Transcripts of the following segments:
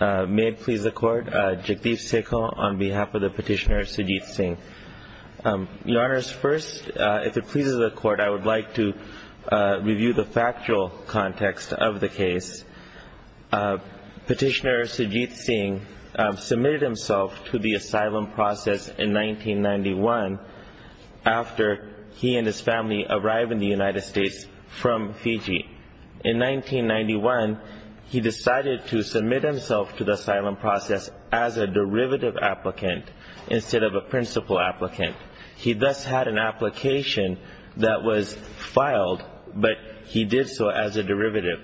May it please the court, Jagdeep Sekul on behalf of the petitioner Sajid Singh. Your Honor, first, if it pleases the court, I would like to review the factual context of the case. Petitioner Sajid Singh submitted himself to the asylum process in 1991 after he and his family arrived in the United States from Fiji. In 1991, he decided to submit himself to the asylum process as a derivative applicant instead of a principal applicant. He thus had an application that was filed, but he did so as a derivative.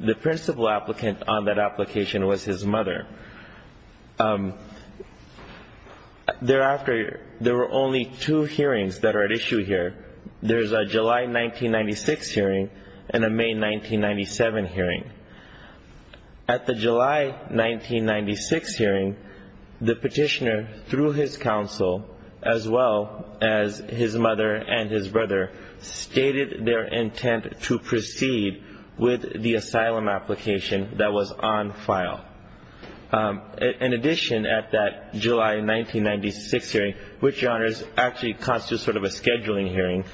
The principal applicant on that application was his mother. Thereafter, there were only two hearings that are at issue here. There is a July 1996 hearing and a May 1997 hearing. At the July 1996 hearing, the petitioner, through his counsel, as well as his mother and his brother, stated their intent to proceed with the asylum application that was on file. In addition, at that July 1996 hearing, which, Your Honor, actually constitutes sort of a scheduling hearing,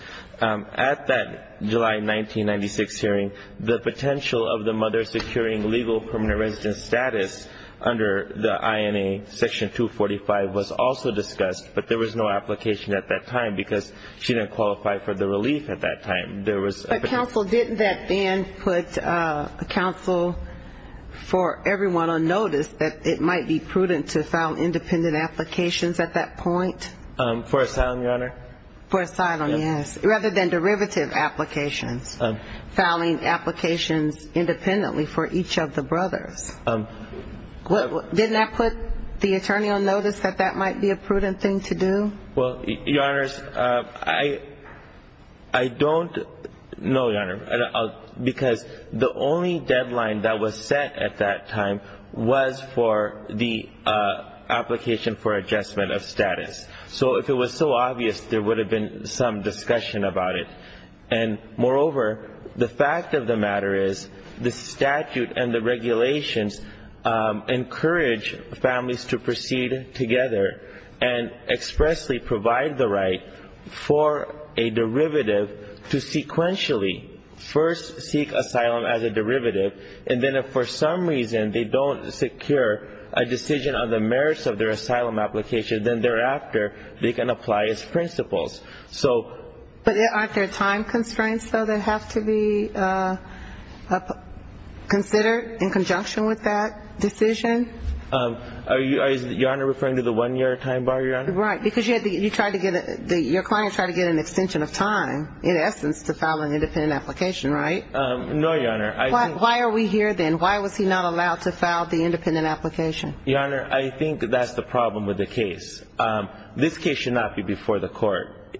at that July 1996 hearing, the potential of the mother securing legal permanent residence status under the INA Section 245 was also discussed, but there was no application at that time because she didn't qualify for the relief at that time. But, counsel, didn't that then put counsel for everyone on notice that it might be prudent to file independent applications at that point? For asylum, Your Honor? For asylum, yes, rather than derivative applications, filing applications independently for each of the brothers. Didn't that put the attorney on notice that that might be a prudent thing to do? Well, Your Honors, I don't know, Your Honor, because the only deadline that was set at that time was for the application for adjustment of status. So if it was so obvious, there would have been some discussion about it. And, moreover, the fact of the matter is the statute and the regulations encourage families to proceed together and expressly provide the right for a derivative to sequentially first seek asylum as a derivative, and then if for some reason they don't secure a decision on the merits of their asylum application, then thereafter they can apply its principles. But aren't there time constraints, though, that have to be considered in conjunction with that decision? Are you, Your Honor, referring to the one-year time bar, Your Honor? Right, because your client tried to get an extension of time, in essence, to file an independent application, right? No, Your Honor. Why are we here then? Why was he not allowed to file the independent application? Your Honor, I think that's the problem with the case. This case should not be before the court.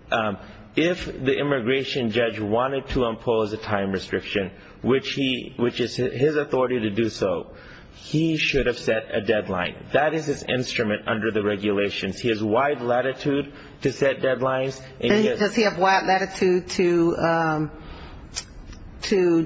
If the immigration judge wanted to impose a time restriction, which is his authority to do so, he should have set a deadline. That is his instrument under the regulations. He has wide latitude to set deadlines. And does he have wide latitude to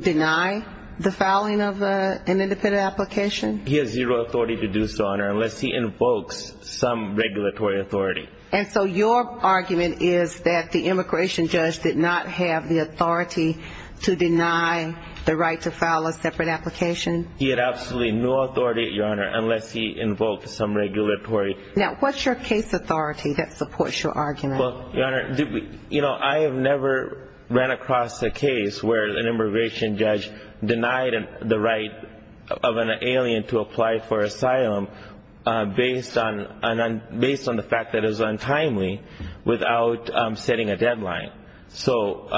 deny the filing of an independent application? He has zero authority to do so, Your Honor, unless he invokes some regulatory authority. And so your argument is that the immigration judge did not have the authority to deny the right to file a separate application? He had absolutely no authority, Your Honor, unless he invoked some regulatory. Now, what's your case authority that supports your argument? Well, Your Honor, you know, I have never ran across a case where an immigration judge denied the right of an alien to apply for asylum based on the fact that it was untimely without setting a deadline. So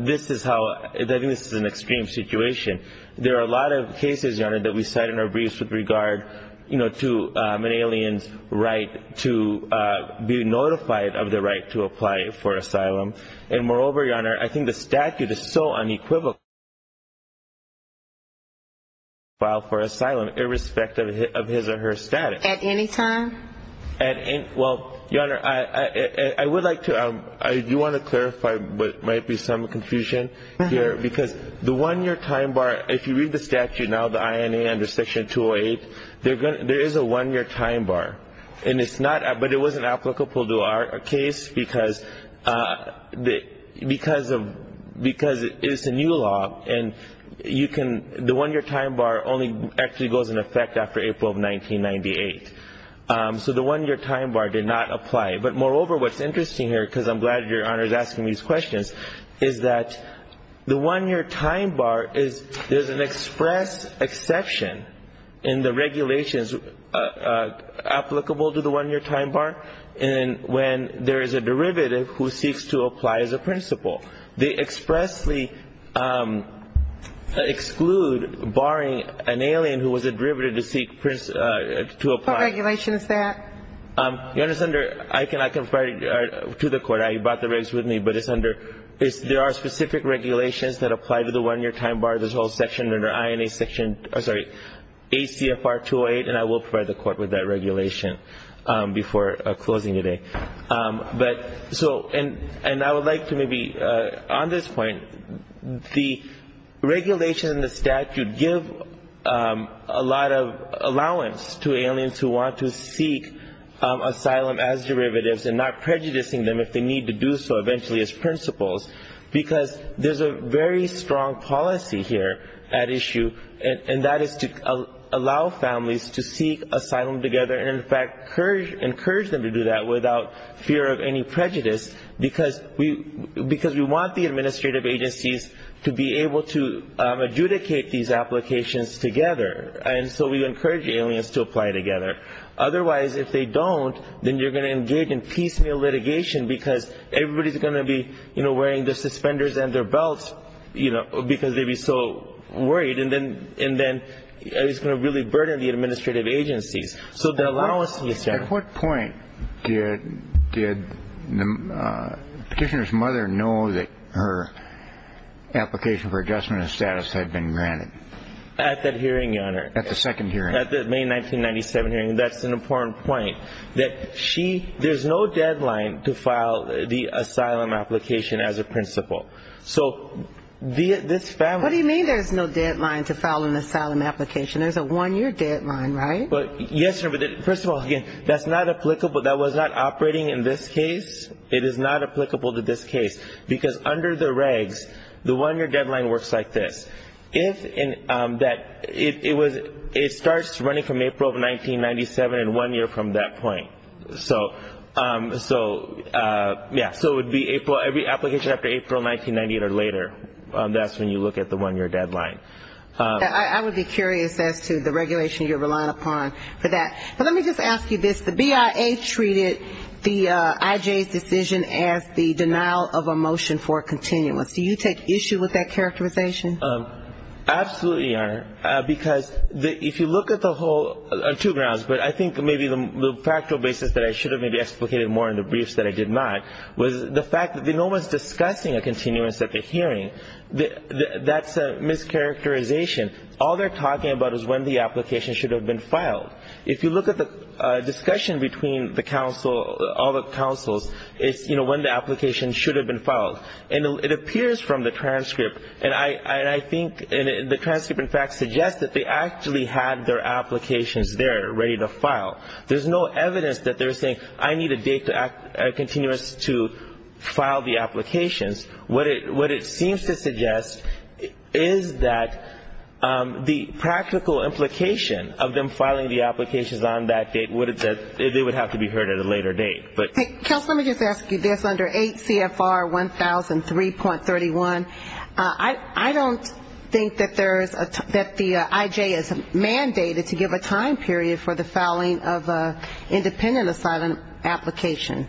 this is how – I think this is an extreme situation. There are a lot of cases, Your Honor, that we cite in our briefs with regard, you know, to an alien's right to be notified of the right to apply for asylum. And moreover, Your Honor, I think the statute is so unequivocal that an alien can file for asylum irrespective of his or her status. At any time? Well, Your Honor, I would like to – I do want to clarify what might be some confusion here because the one-year time bar – if you read the statute now, the INA under Section 208, there is a one-year time bar. And it's not – but it wasn't applicable to our case because it's a new law and you can – the one-year time bar only actually goes in effect after April of 1998. So the one-year time bar did not apply. But moreover, what's interesting here, because I'm glad Your Honor is asking these questions, is that the one-year time bar is – there's an express exception in the regulations applicable to the one-year time bar when there is a derivative who seeks to apply as a principal. They expressly exclude barring an alien who was a derivative to seek to apply. What regulation is that? Your Honor, Senator, I can refer you to the court. You brought the regs with me. But it's under – there are specific regulations that apply to the one-year time bar. There's a whole section under INA Section – sorry, ACFR 208, and I will provide the court with that regulation before closing today. But so – and I would like to maybe – on this point, the regulation in the statute give a lot of allowance to aliens who want to seek asylum as derivatives and not prejudicing them if they need to do so eventually as principals because there's a very strong policy here at issue, and that is to allow families to seek asylum together and, in fact, encourage them to do that without fear of any prejudice because we want the administrative agencies to be able to adjudicate these applications together. And so we encourage aliens to apply together. Otherwise, if they don't, then you're going to engage in piecemeal litigation because everybody's going to be, you know, wearing their suspenders and their belts, you know, because they'd be so worried, and then it's going to really burden the administrative agencies. So the allowance is there. At what point did the petitioner's mother know that her application for adjustment of status had been granted? At that hearing, Your Honor. At the second hearing. At the May 1997 hearing. That's an important point, that she – there's no deadline to file the asylum application as a principal. So this family – What do you mean there's no deadline to file an asylum application? There's a one-year deadline, right? Yes, Your Honor, but first of all, again, that's not applicable – that was not operating in this case. It is not applicable to this case because under the regs, the one-year deadline works like this. If that – it starts running from April of 1997 and one year from that point. So, yeah, so it would be every application after April 1998 or later. That's when you look at the one-year deadline. I would be curious as to the regulation you're relying upon for that. But let me just ask you this. The BIA treated the IJ's decision as the denial of a motion for continuance. Do you take issue with that characterization? Absolutely, Your Honor, because if you look at the whole – on two grounds. But I think maybe the factual basis that I should have maybe explicated more in the briefs that I did not was the fact that no one's discussing a continuance at the hearing. That's a mischaracterization. All they're talking about is when the application should have been filed. If you look at the discussion between the counsel – all the counsels, it's, you know, when the application should have been filed. And it appears from the transcript, and I think the transcript, in fact, suggests that they actually had their applications there ready to file. There's no evidence that they're saying, I need a date to act – a continuance to file the applications. What it seems to suggest is that the practical implication of them filing the applications on that date would have said they would have to be heard at a later date. Counsel, let me just ask you this. Under 8 CFR 1003.31, I don't think that there is a – that the I.J. is mandated to give a time period for the filing of an independent asylum application.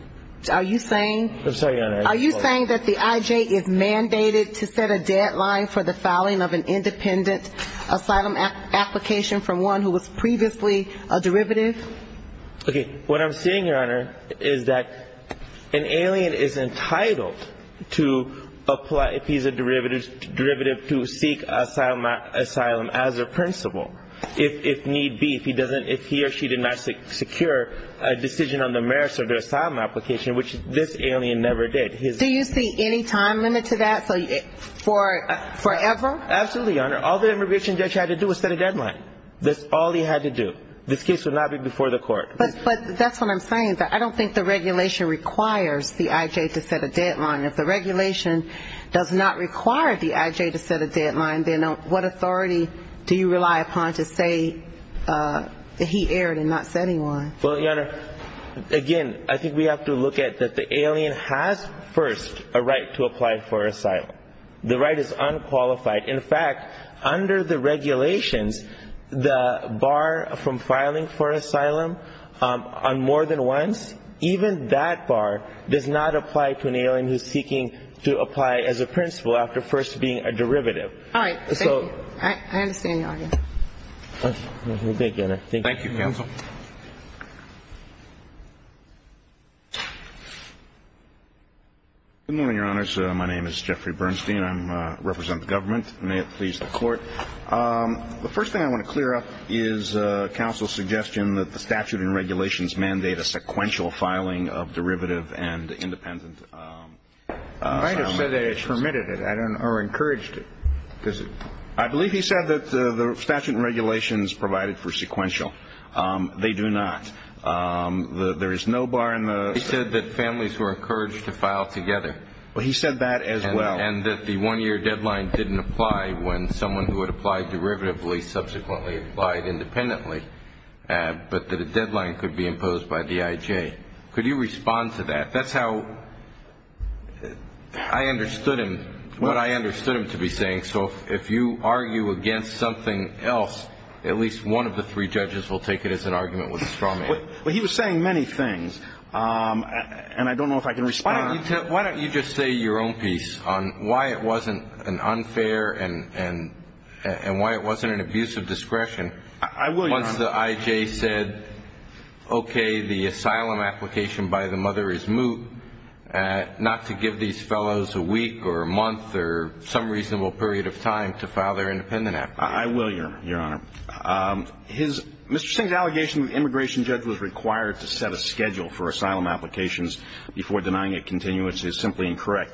Are you saying – I'm sorry, Your Honor. Are you saying that the I.J. is mandated to set a deadline for the filing of an independent asylum application from one who was previously a derivative? Okay. What I'm saying, Your Honor, is that an alien is entitled to apply – if he's a derivative, to seek asylum as a principle, if need be. If he doesn't – if he or she did not secure a decision on the merits of their asylum application, which this alien never did. Do you see any time limit to that? So for forever? Absolutely, Your Honor. All the immigration judge had to do was set a deadline. That's all he had to do. This case would not be before the court. But that's what I'm saying. I don't think the regulation requires the I.J. to set a deadline. If the regulation does not require the I.J. to set a deadline, then what authority do you rely upon to say that he erred in not setting one? Well, Your Honor, again, I think we have to look at that the alien has first a right to apply for asylum. The right is unqualified. In fact, under the regulations, the bar from filing for asylum on more than once, even that bar does not apply to an alien who's seeking to apply as a principle after first being a derivative. All right. Thank you. I understand your argument. Thank you, Your Honor. Thank you. Thank you, counsel. Good morning, Your Honors. My name is Jeffrey Bernstein. I represent the government. May it please the Court. The first thing I want to clear up is counsel's suggestion that the statute and regulations mandate a sequential filing of derivative and independent asylum applications. You might have said they permitted it or encouraged it. I believe he said that the statute and regulations provided for sequential. They do not. There is no bar in the statute. He said that families were encouraged to file together. Well, he said that as well. And that the one-year deadline didn't apply when someone who had applied derivatively subsequently applied independently, but that a deadline could be imposed by DIJ. Could you respond to that? That's how I understood him, what I understood him to be saying. So if you argue against something else, at least one of the three judges will take it as an argument with a straw man. Well, he was saying many things, and I don't know if I can respond. Why don't you just say your own piece on why it wasn't an unfair and why it wasn't an abuse of discretion. I will, Your Honor. Once the IJ said, okay, the asylum application by the mother is moot, not to give these fellows a week or a month or some reasonable period of time to file their independent application. I will, Your Honor. Mr. Singh's allegation that the immigration judge was required to set a schedule for asylum applications before denying a continuance is simply incorrect.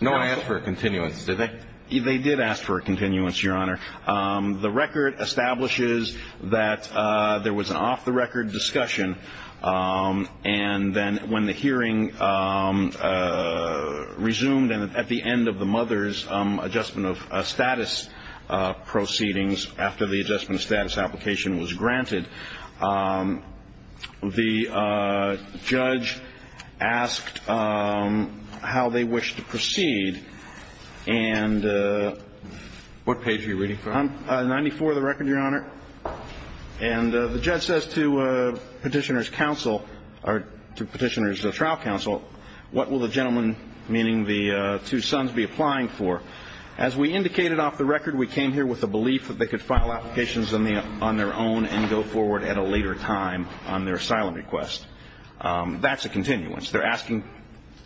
No one asked for a continuance, did they? They did ask for a continuance, Your Honor. The record establishes that there was an off-the-record discussion, and then when the hearing resumed and at the end of the mother's adjustment of status proceedings, after the adjustment of status application was granted, the judge asked how they wished to proceed, and what page are you reading from? And the judge says to Petitioner's trial counsel, what will the gentleman, meaning the two sons, be applying for? As we indicated off the record, we came here with the belief that they could file applications on their own and go forward at a later time on their asylum request. That's a continuance. They're asking,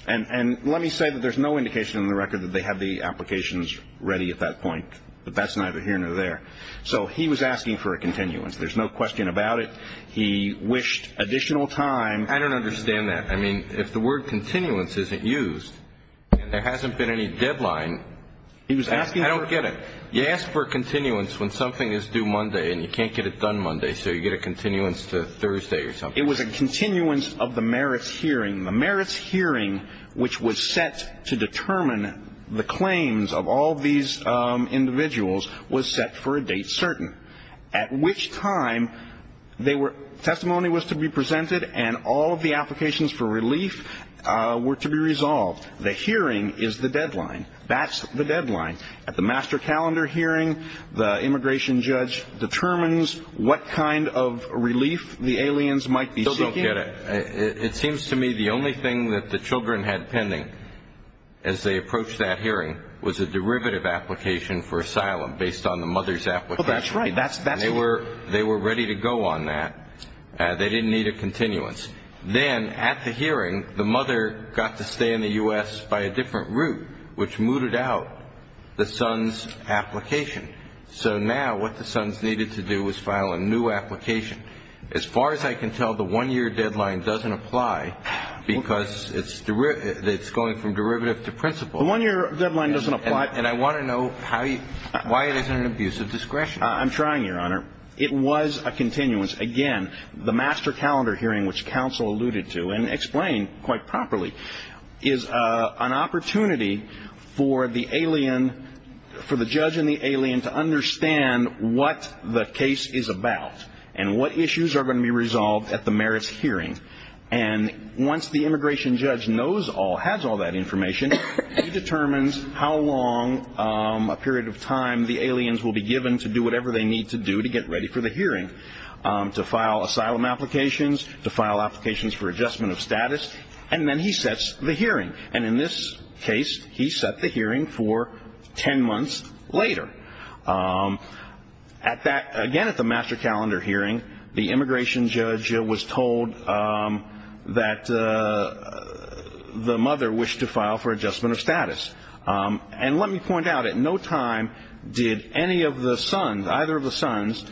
and let me say that there's no indication in the record that they have the applications ready at that point, but that's neither here nor there. So he was asking for a continuance. There's no question about it. He wished additional time. I don't understand that. I mean, if the word continuance isn't used and there hasn't been any deadline, I don't get it. You ask for a continuance when something is due Monday and you can't get it done Monday, so you get a continuance to Thursday or something. It was a continuance of the merits hearing. The merits hearing, which was set to determine the claims of all these individuals, was set for a date certain, at which time testimony was to be presented and all of the applications for relief were to be resolved. The hearing is the deadline. That's the deadline. At the master calendar hearing, the immigration judge determines what kind of relief the aliens might be seeking. I still don't get it. It seems to me the only thing that the children had pending as they approached that hearing was a derivative application for asylum based on the mother's application. Well, that's right. They were ready to go on that. They didn't need a continuance. Then at the hearing, the mother got to stay in the U.S. by a different route, which mooted out the son's application. So now what the sons needed to do was file a new application. As far as I can tell, the one-year deadline doesn't apply because it's going from derivative to principal. The one-year deadline doesn't apply. And I want to know why it isn't an abuse of discretion. I'm trying, Your Honor. It was a continuance. Again, the master calendar hearing, which counsel alluded to and explained quite properly, is an opportunity for the judge and the alien to understand what the case is about and what issues are going to be resolved at the merits hearing. And once the immigration judge has all that information, he determines how long a period of time the aliens will be given to do whatever they need to do to get ready for the hearing, to file asylum applications, to file applications for adjustment of status. And then he sets the hearing. And in this case, he set the hearing for ten months later. Again, at the master calendar hearing, the immigration judge was told that the mother wished to file for adjustment of status. And let me point out, at no time did any of the sons, either of the sons,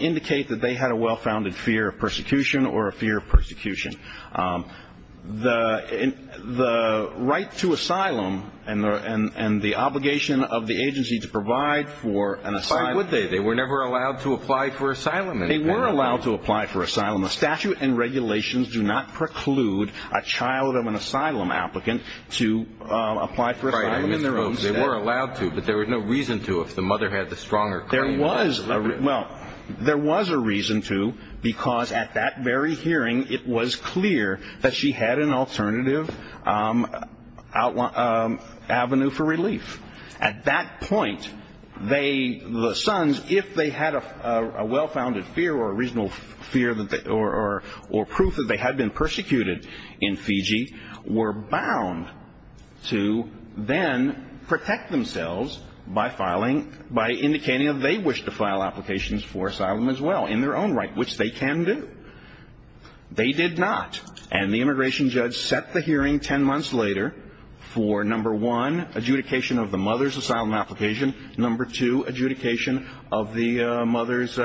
indicate that they had a well-founded fear of persecution or a fear of persecution. The right to asylum and the obligation of the agency to provide for an asylum. Why would they? They were never allowed to apply for asylum. They were allowed to apply for asylum. The statute and regulations do not preclude a child of an asylum applicant to apply for asylum in their own state. They were allowed to, but there was no reason to if the mother had the stronger claim. Well, there was a reason to because at that very hearing, it was clear that she had an alternative avenue for relief. At that point, the sons, if they had a well-founded fear or a reasonable fear or proof that they had been persecuted in Fiji, were bound to then protect themselves by filing, by indicating that they wished to file applications for asylum as well in their own right, which they can do. They did not. And the immigration judge set the hearing ten months later for, number one, adjudication of the mother's asylum application, number two, adjudication of the mother's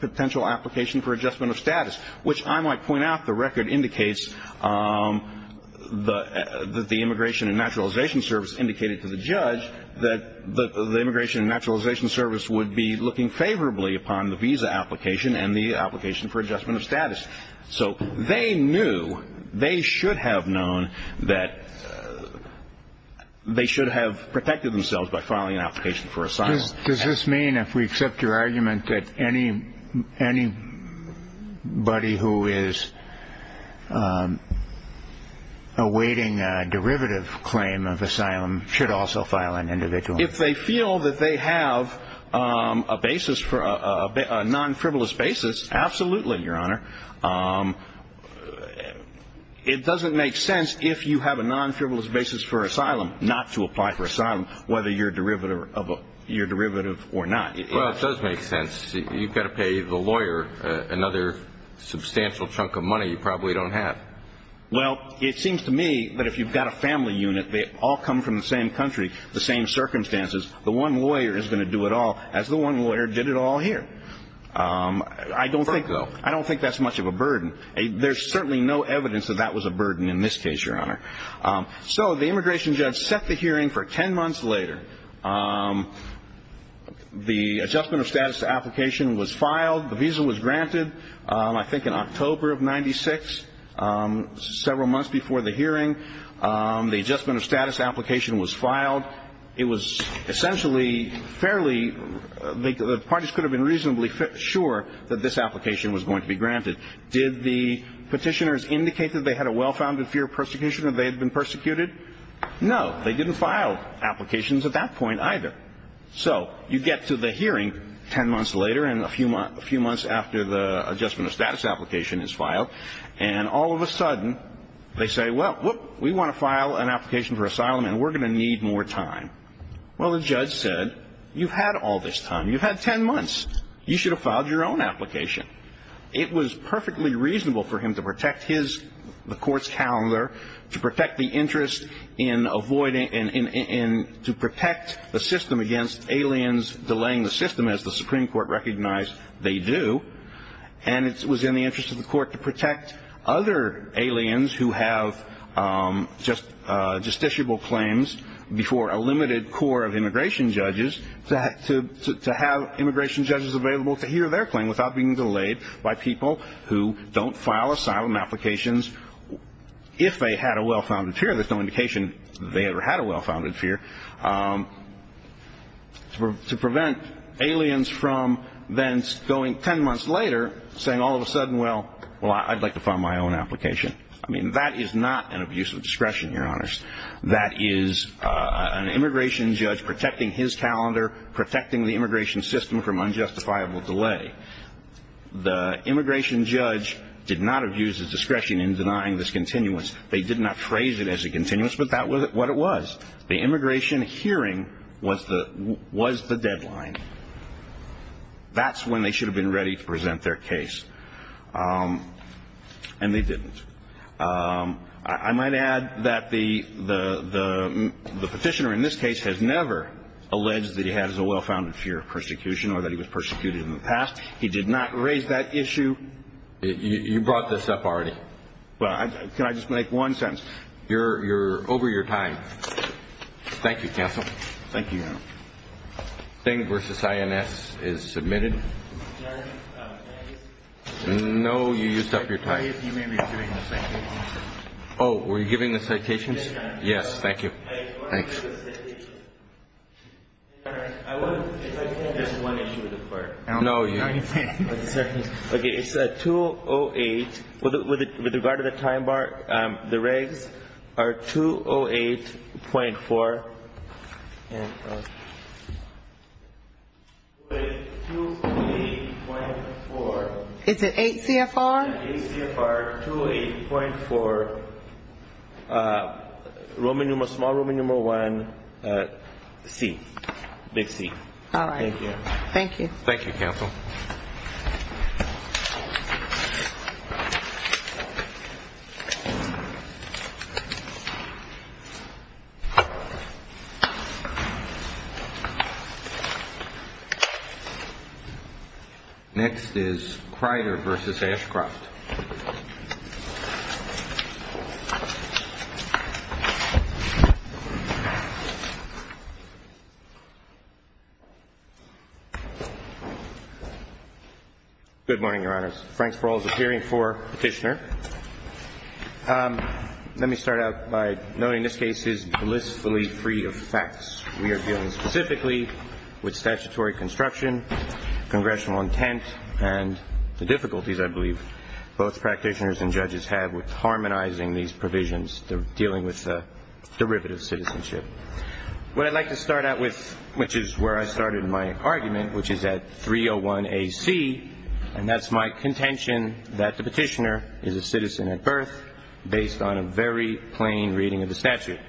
potential application for adjustment of status, which I might point out the record indicates that the Immigration and Naturalization Service indicated to the judge that the Immigration and Naturalization Service would be looking favorably upon the visa application and the application for adjustment of status. So they knew, they should have known that they should have protected themselves by filing an application for asylum. Does this mean, if we accept your argument, that anybody who is awaiting a derivative claim of asylum should also file an individual? If they feel that they have a basis for a non-frivolous basis, absolutely, Your Honor. It doesn't make sense if you have a non-frivolous basis for asylum not to apply for asylum, whether you're a derivative or not. Well, it does make sense. You've got to pay the lawyer another substantial chunk of money you probably don't have. Well, it seems to me that if you've got a family unit, they all come from the same country, the same circumstances, the one lawyer is going to do it all as the one lawyer did it all here. I don't think so. I don't think that's much of a burden. There's certainly no evidence that that was a burden in this case, Your Honor. So the immigration judge set the hearing for ten months later. The adjustment of status application was filed. The visa was granted, I think, in October of 1996, several months before the hearing. The adjustment of status application was filed. It was essentially fairly the parties could have been reasonably sure that this application was going to be granted. Did the petitioners indicate that they had a well-founded fear of persecution, that they had been persecuted? No. They didn't file applications at that point either. So you get to the hearing ten months later and a few months after the adjustment of status application is filed, and all of a sudden they say, well, we want to file an application for asylum and we're going to need more time. Well, the judge said, you've had all this time. You've had ten months. You should have filed your own application. It was perfectly reasonable for him to protect the court's calendar, to protect the interest in avoiding and to protect the system against aliens delaying the system, as the Supreme Court recognized they do. And it was in the interest of the court to protect other aliens who have justiciable claims before a limited core of immigration judges to have immigration judges available to hear their claim without being delayed by people who don't file asylum applications if they had a well-founded fear. There's no indication they ever had a well-founded fear. To prevent aliens from then going ten months later saying all of a sudden, well, I'd like to file my own application. I mean, that is not an abuse of discretion, Your Honors. That is an immigration judge protecting his calendar, protecting the immigration system from unjustifiable delay. The immigration judge did not abuse his discretion in denying this continuance. They did not phrase it as a continuance, but that was what it was. The immigration hearing was the deadline. That's when they should have been ready to present their case. And they didn't. I might add that the petitioner in this case has never alleged that he has a well-founded fear of persecution or that he was persecuted in the past. He did not raise that issue. You brought this up already. Well, can I just make one sentence? You're over your time. Thank you, counsel. Thank you, Your Honor. Thing v. INS is submitted. No, you used up your time. You may be receiving the citations. Oh, were you giving the citations? Yes, Your Honor. Yes, thank you. Thanks. There's one issue with the part. No, you didn't. Okay, it's 208. With regard to the time bar, the regs are 208.4. Is it 8 CFR? 8 CFR, 208.4, Roman numeral, small Roman numeral 1, C, big C. All right. Thank you. Thank you, counsel. Thank you. Next is Kreider v. Ashcroft. Good morning, Your Honors. Frank Sproul is appearing for petitioner. Let me start out by noting this case is blissfully free of facts. We are dealing specifically with statutory construction, congressional intent, and the difficulties I believe both practitioners and judges have with harmonizing these provisions, dealing with the derivative citizenship. What I'd like to start out with, which is where I started my argument, which is at 301 AC, and that's my contention that the petitioner is a citizen at birth based on a very plain reading of the statute.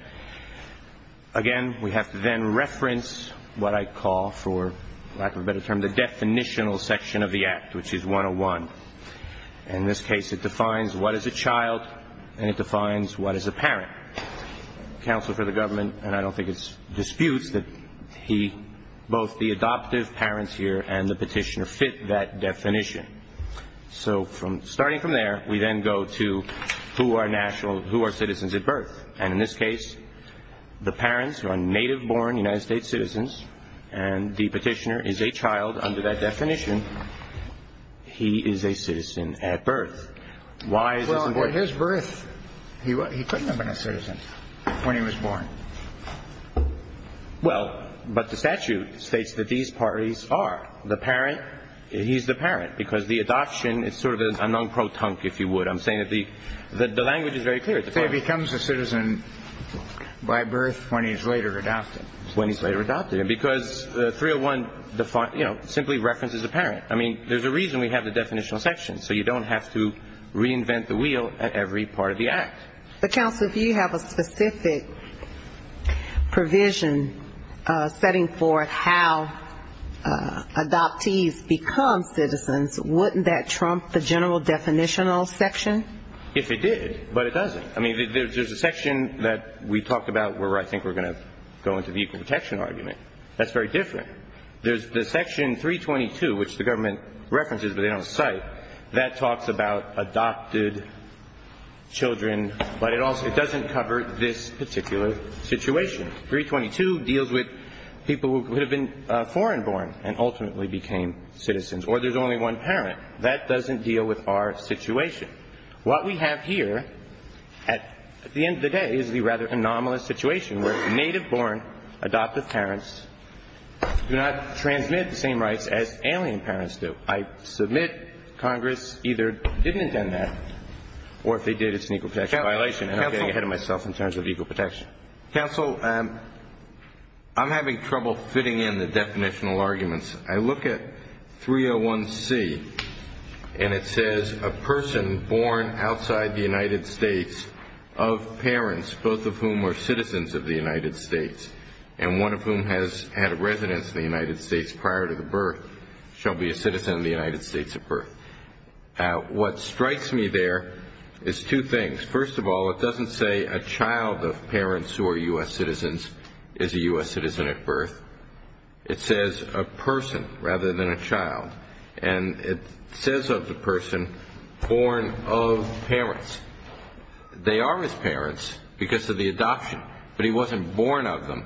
Again, we have to then reference what I call, for lack of a better term, the definitional section of the Act, which is 101. In this case, it defines what is a child and it defines what is a parent. Counsel for the government, and I don't think it disputes that he, both the adoptive parents here and the petitioner fit that definition. So starting from there, we then go to who are citizens at birth. And in this case, the parents are native-born United States citizens, and the petitioner is a child under that definition. He is a citizen at birth. Why is this important? Well, at his birth, he couldn't have been a citizen when he was born. Well, but the statute states that these parties are. The parent, he's the parent, because the adoption is sort of a non-pro-tunk, if you would. I'm saying that the language is very clear. He becomes a citizen by birth when he's later adopted. When he's later adopted, because 301 simply references the parent. I mean, there's a reason we have the definitional section, so you don't have to reinvent the wheel at every part of the Act. But, counsel, if you have a specific provision setting forth how adoptees become citizens, wouldn't that trump the general definitional section? If it did. But it doesn't. I mean, there's a section that we talked about where I think we're going to go into the equal protection argument. That's very different. There's the section 322, which the government references but they don't cite, that talks about adopted children, but it doesn't cover this particular situation. 322 deals with people who could have been foreign-born and ultimately became citizens. Or there's only one parent. That doesn't deal with our situation. What we have here at the end of the day is the rather anomalous situation where native-born adoptive parents do not transmit the same rights as alien parents do. I submit Congress either didn't intend that or if they did, it's an equal protection violation. And I'm getting ahead of myself in terms of equal protection. Counsel, I'm having trouble fitting in the definitional arguments. I look at 301C and it says a person born outside the United States of parents, both of whom are citizens of the United States, and one of whom has had a residence in the United States prior to the birth, shall be a citizen of the United States at birth. What strikes me there is two things. First of all, it doesn't say a child of parents who are U.S. citizens is a U.S. citizen at birth. It says a person rather than a child. And it says of the person born of parents. They are his parents because of the adoption, but he wasn't born of them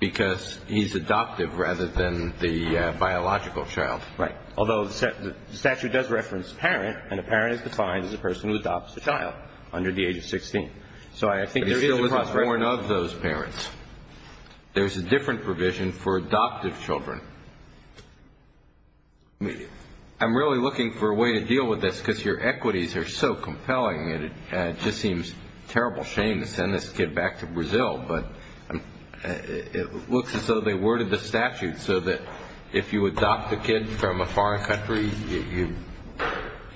because he's adoptive rather than the biological child. Right. Although the statute does reference parent, and a parent is defined as a person who adopts a child under the age of 16. So I think there is a cross-reference. But he still wasn't born of those parents. There's a different provision for adoptive children. I'm really looking for a way to deal with this because your equities are so compelling and it just seems a terrible shame to send this kid back to Brazil. But it looks as though they worded the statute so that if you adopt a kid from a foreign country, you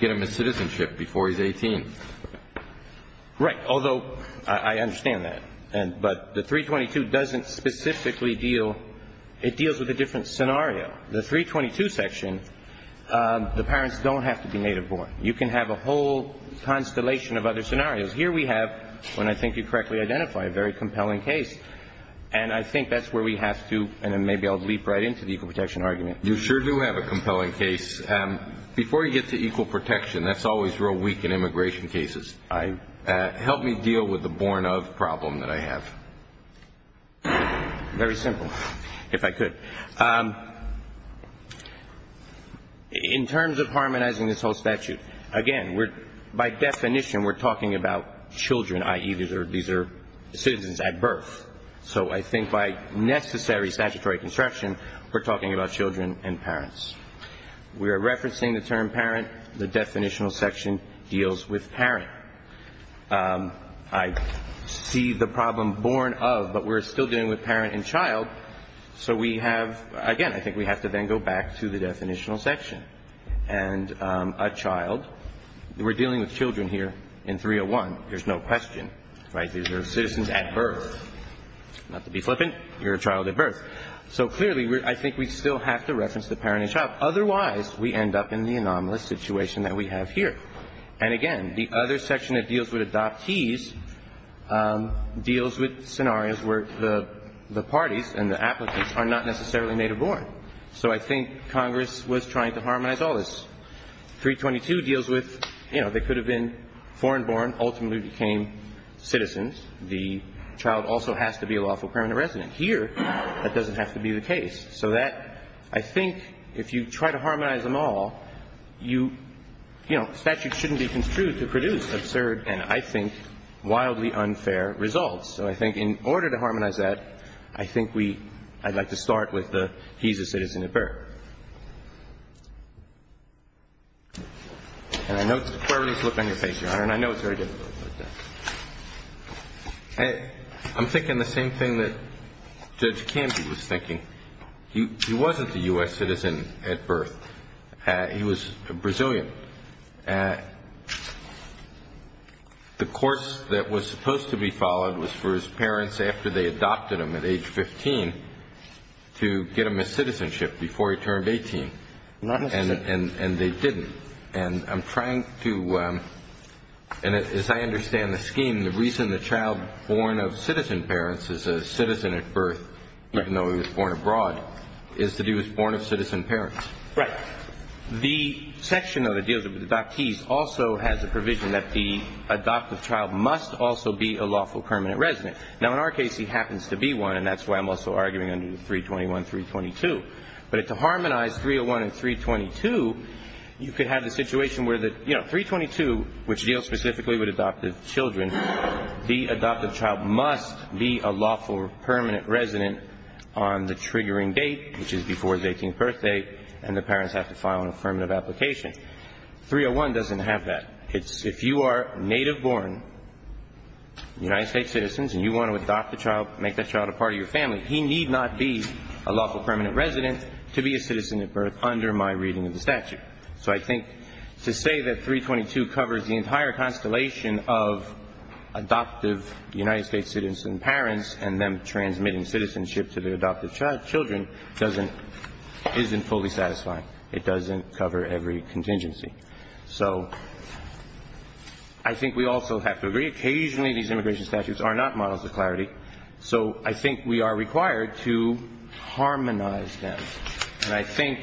get him a citizenship before he's 18. Right. Although I understand that. But the 322 doesn't specifically deal, it deals with a different scenario. The 322 section, the parents don't have to be native born. You can have a whole constellation of other scenarios. Here we have, when I think you correctly identify, a very compelling case. And I think that's where we have to, and maybe I'll leap right into the equal protection argument. You sure do have a compelling case. Before you get to equal protection, that's always real weak in immigration cases. Help me deal with the born of problem that I have. Very simple, if I could. In terms of harmonizing this whole statute, again, by definition we're talking about children, i.e. these are citizens at birth. So I think by necessary statutory construction, we're talking about children and parents. We're referencing the term parent. The definitional section deals with parent. I see the problem born of, but we're still dealing with parent and child. So we have, again, I think we have to then go back to the definitional section. And a child, we're dealing with children here in 301. There's no question. Right. These are citizens at birth. Not to be flippant, you're a child at birth. So clearly, I think we still have to reference the parent and child. Otherwise, we end up in the anomalous situation that we have here. And again, the other section that deals with adoptees deals with scenarios where the parties and the applicants are not necessarily native born. So I think Congress was trying to harmonize all this. 322 deals with, you know, they could have been foreign born, ultimately became citizens. The child also has to be a lawful permanent resident. Here, that doesn't have to be the case. So that, I think, if you try to harmonize them all, you, you know, statutes shouldn't be construed to produce absurd and, I think, wildly unfair results. So I think in order to harmonize that, I think we – I'd like to start with the he's a citizen at birth. And I know it's a quirky look on your face, Your Honor, and I know it's very difficult. I'm thinking the same thing that Judge Canby was thinking. He wasn't a U.S. citizen at birth. He was Brazilian. The course that was supposed to be followed was for his parents, after they adopted him at age 15, to get him a citizenship before he turned 18. And they didn't. And I'm trying to – and as I understand the scheme, the reason the child born of citizen parents is a citizen at birth, even though he was born abroad, is to do with born of citizen parents. Right. The section of the deals with the adoptees also has a provision that the adoptive child must also be a lawful permanent resident. Now, in our case, he happens to be one, and that's why I'm also arguing under 321, 322. But to harmonize 301 and 322, you could have the situation where the – you know, 322, which deals specifically with adoptive children, the adoptive child must be a lawful permanent resident on the triggering date, which is before the 18th birthday, and the parents have to file an affirmative application. 301 doesn't have that. If you are native-born United States citizens and you want to adopt a child, make that child a part of your family, he need not be a lawful permanent resident to be a citizen at birth under my reading of the statute. So I think to say that 322 covers the entire constellation of adoptive United States citizens and parents and them transmitting citizenship to their adoptive children doesn't – isn't fully satisfying. It doesn't cover every contingency. So I think we also have to agree occasionally these immigration statutes are not models of clarity, so I think we are required to harmonize them. And I think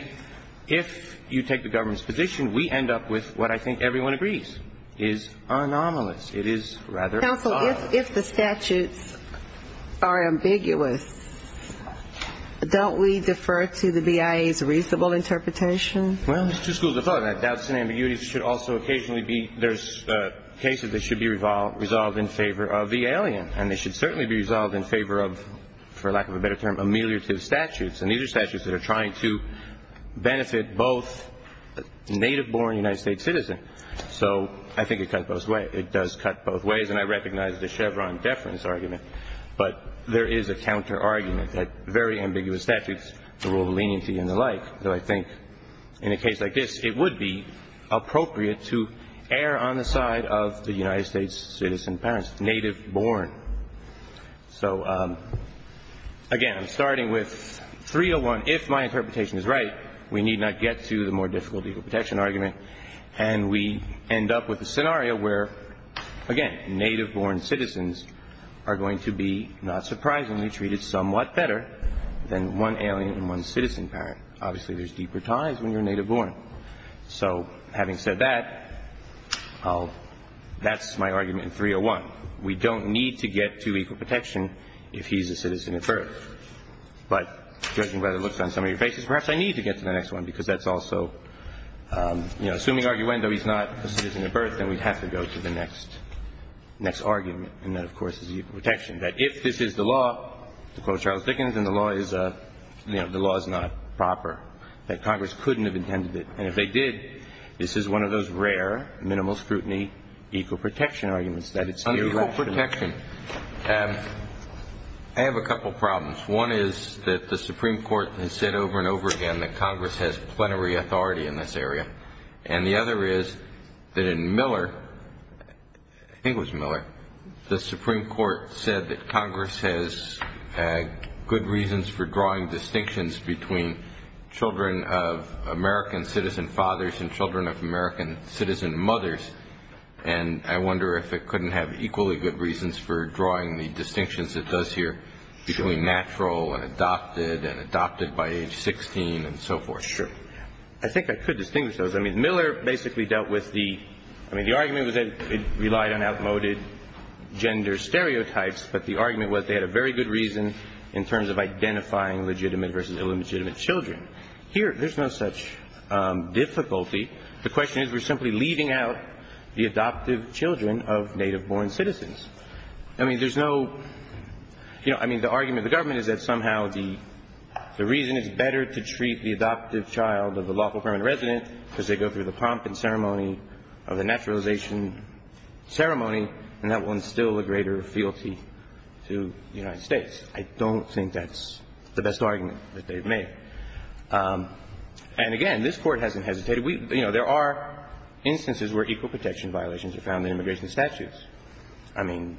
if you take the government's position, we end up with what I think everyone agrees is anomalous. It is rather odd. Counsel, if the statutes are ambiguous, don't we defer to the BIA's reasonable interpretation? Well, there's two schools of thought. Doubts and ambiguities should also occasionally be – there's cases that should be resolved in favor of the alien, and they should certainly be resolved in favor of, for lack of a better term, ameliorative statutes. And these are statutes that are trying to benefit both native-born United States citizens. So I think it cuts both ways. It does cut both ways, and I recognize the Chevron deference argument, but there is a counterargument that very ambiguous statutes, the rule of leniency and the like, that I think in a case like this it would be appropriate to err on the side of the United States citizen parents, native-born. So, again, I'm starting with 301. If my interpretation is right, we need not get to the more difficult legal protection argument, and we end up with a scenario where, again, native-born citizens are going to be, not surprisingly, treated somewhat better than one alien and one citizen parent. Obviously, there's deeper ties when you're native-born. So having said that, that's my argument in 301. We don't need to get to equal protection if he's a citizen at birth. But judging by the looks on some of your faces, perhaps I need to get to the next one, because that's also, you know, assuming arguendo he's not a citizen at birth, then we'd have to go to the next argument, and that, of course, is equal protection, that if this is the law, to quote Charles Dickens, and the law is, you know, the law is not proper, that Congress couldn't have intended it. And if they did, this is one of those rare, minimal scrutiny, equal protection arguments. On equal protection, I have a couple problems. One is that the Supreme Court has said over and over again that Congress has plenary authority in this area. And the other is that in Miller, I think it was Miller, the Supreme Court said that Congress has good reasons for drawing distinctions between children of American citizen fathers and children of American citizen mothers. And I wonder if it couldn't have equally good reasons for drawing the distinctions it does here between natural and adopted and adopted by age 16 and so forth. Sure. I think I could distinguish those. I mean, Miller basically dealt with the – I mean, the argument was that it relied on outmoded gender stereotypes, but the argument was they had a very good reason in terms of identifying legitimate versus illegitimate children. Here, there's no such difficulty. The question is we're simply leaving out the adoptive children of native-born citizens. I mean, there's no – you know, I mean, the argument of the government is that somehow the reason is better to treat the adoptive child of the lawful permanent resident because they go through the prompting ceremony of the naturalization ceremony, and that will instill a greater fealty to the United States. I don't think that's the best argument that they've made. And again, this Court hasn't hesitated. We – you know, there are instances where equal protection violations are found in immigration statutes. I mean,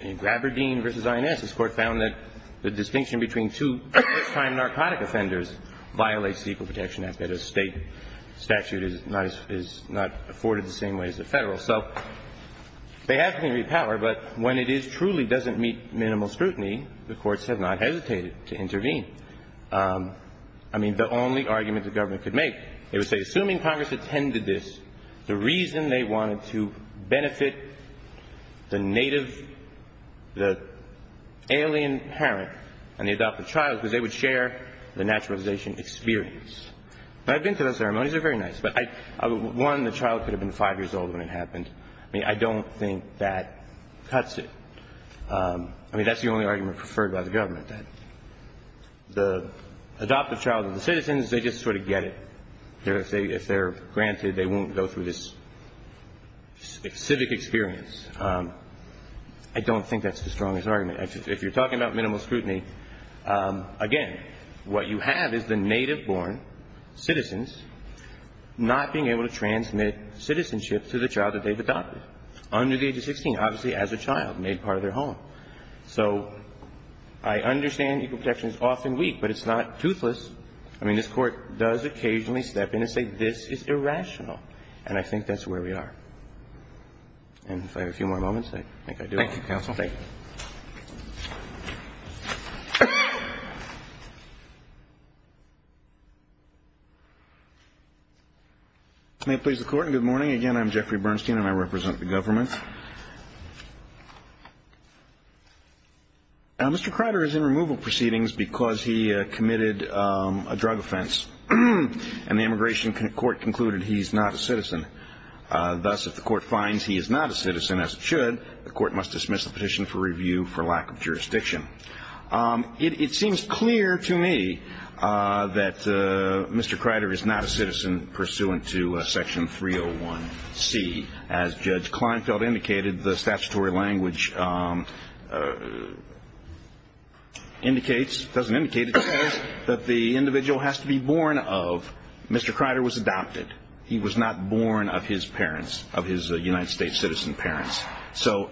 in Graberdeen v. INS, this Court found that the distinction between two first-time narcotic offenders violates the Equal Protection Act, that a State statute is not – is not afforded the same way as the Federal. So they have to be repowered, but when it is truly doesn't meet minimal scrutiny, the courts have not hesitated to intervene. I mean, the only argument the government could make, it would say, assuming Congress attended this, the reason they wanted to benefit the native – the alien parent and the adoptive child was they would share the naturalization experience. I've been to those ceremonies. They're very nice. But I – one, the child could have been five years old when it happened. I mean, I don't think that cuts it. I mean, that's the only argument preferred by the government, that the adoptive child of the citizens, they just sort of get it. If they're granted, they won't go through this civic experience. I don't think that's the strongest argument. If you're talking about minimal scrutiny, again, what you have is the native-born citizens not being able to transmit citizenship to the child that they've adopted, under the age of 16, obviously as a child, made part of their home. So I understand equal protection is often weak, but it's not toothless. I mean, this Court does occasionally step in and say, this is irrational. And I think that's where we are. And if I have a few more moments, I think I do. Thank you, counsel. Thank you. May it please the Court, and good morning. Mr. Crider is in removal proceedings because he committed a drug offense, and the Immigration Court concluded he's not a citizen. Thus, if the Court finds he is not a citizen, as it should, the Court must dismiss the petition for review for lack of jurisdiction. It seems clear to me that Mr. Crider is not a citizen pursuant to Section 301C. As Judge Kleinfeld indicated, the statutory language indicates, doesn't indicate it says, that the individual has to be born of. Mr. Crider was adopted. He was not born of his parents, of his United States citizen parents. So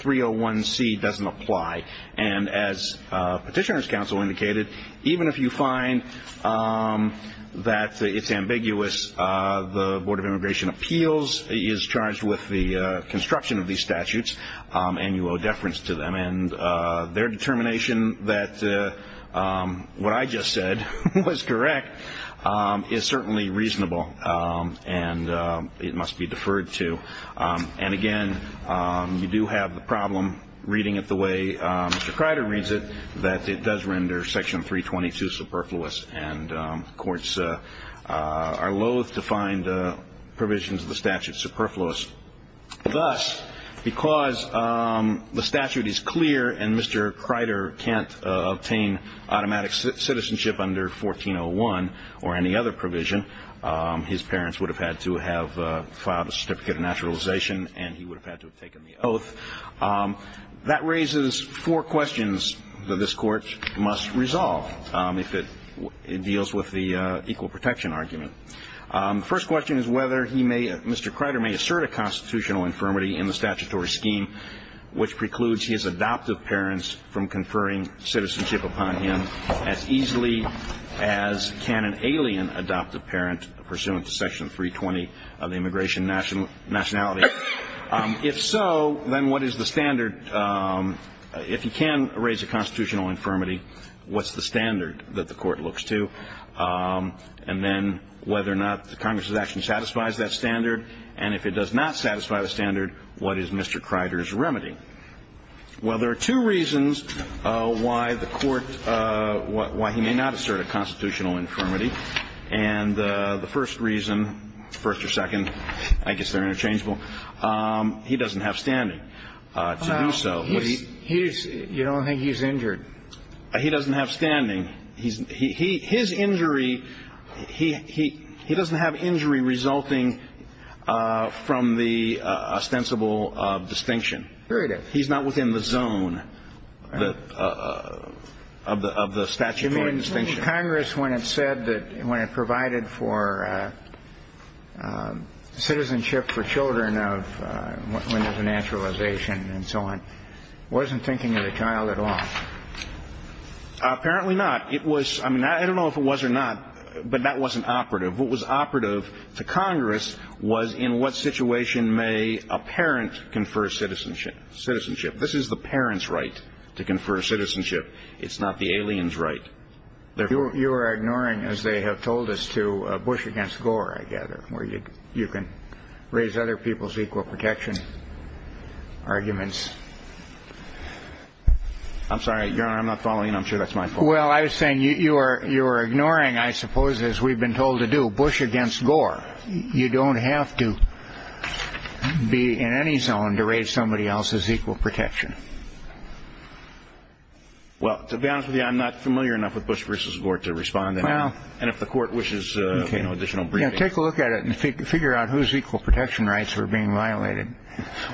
301C doesn't apply. And as Petitioner's Counsel indicated, even if you find that it's ambiguous, the Board of Immigration Appeals is charged with the construction of these statutes, and you owe deference to them. And their determination that what I just said was correct is certainly reasonable, and it must be deferred to. And, again, you do have the problem, reading it the way Mr. Crider reads it, that it does render Section 322 superfluous. And courts are loathe to find provisions of the statute superfluous. Thus, because the statute is clear and Mr. Crider can't obtain automatic citizenship under 1401 or any other provision, his parents would have had to have filed a certificate of naturalization, and he would have had to have taken the oath. That raises four questions that this Court must resolve. If it deals with the equal protection argument. The first question is whether he may or Mr. Crider may assert a constitutional infirmity in the statutory scheme which precludes his adoptive parents from conferring citizenship upon him as easily as can an alien adoptive parent pursuant to Section 320 of the Immigration Nationality. If so, then what is the standard? If he can raise a constitutional infirmity, what's the standard that the Court looks to? And then whether or not the Congress's action satisfies that standard. And if it does not satisfy the standard, what is Mr. Crider's remedy? Well, there are two reasons why the Court, why he may not assert a constitutional infirmity. And the first reason, first or second, I guess they're interchangeable, he doesn't have standing. He doesn't have standing to do so. Well, you don't think he's injured? He doesn't have standing. His injury, he doesn't have injury resulting from the ostensible distinction. Here it is. He's not within the zone of the statutory distinction. The Congress, when it said that, when it provided for citizenship for children of, when there's a naturalization and so on, wasn't thinking of the child at all. Apparently not. It was, I mean, I don't know if it was or not, but that wasn't operative. What was operative to Congress was in what situation may a parent confer citizenship. This is the parent's right to confer citizenship. It's not the alien's right. You are ignoring, as they have told us to, Bush against Gore, I gather, where you can raise other people's equal protection arguments. I'm sorry, Your Honor, I'm not following. I'm sure that's my fault. Well, I was saying you are ignoring, I suppose, as we've been told to do, Bush against Gore. You don't have to be in any zone to raise somebody else's equal protection. Well, to be honest with you, I'm not familiar enough with Bush versus Gore to respond to that. And if the court wishes additional briefing. Take a look at it and figure out whose equal protection rights are being violated.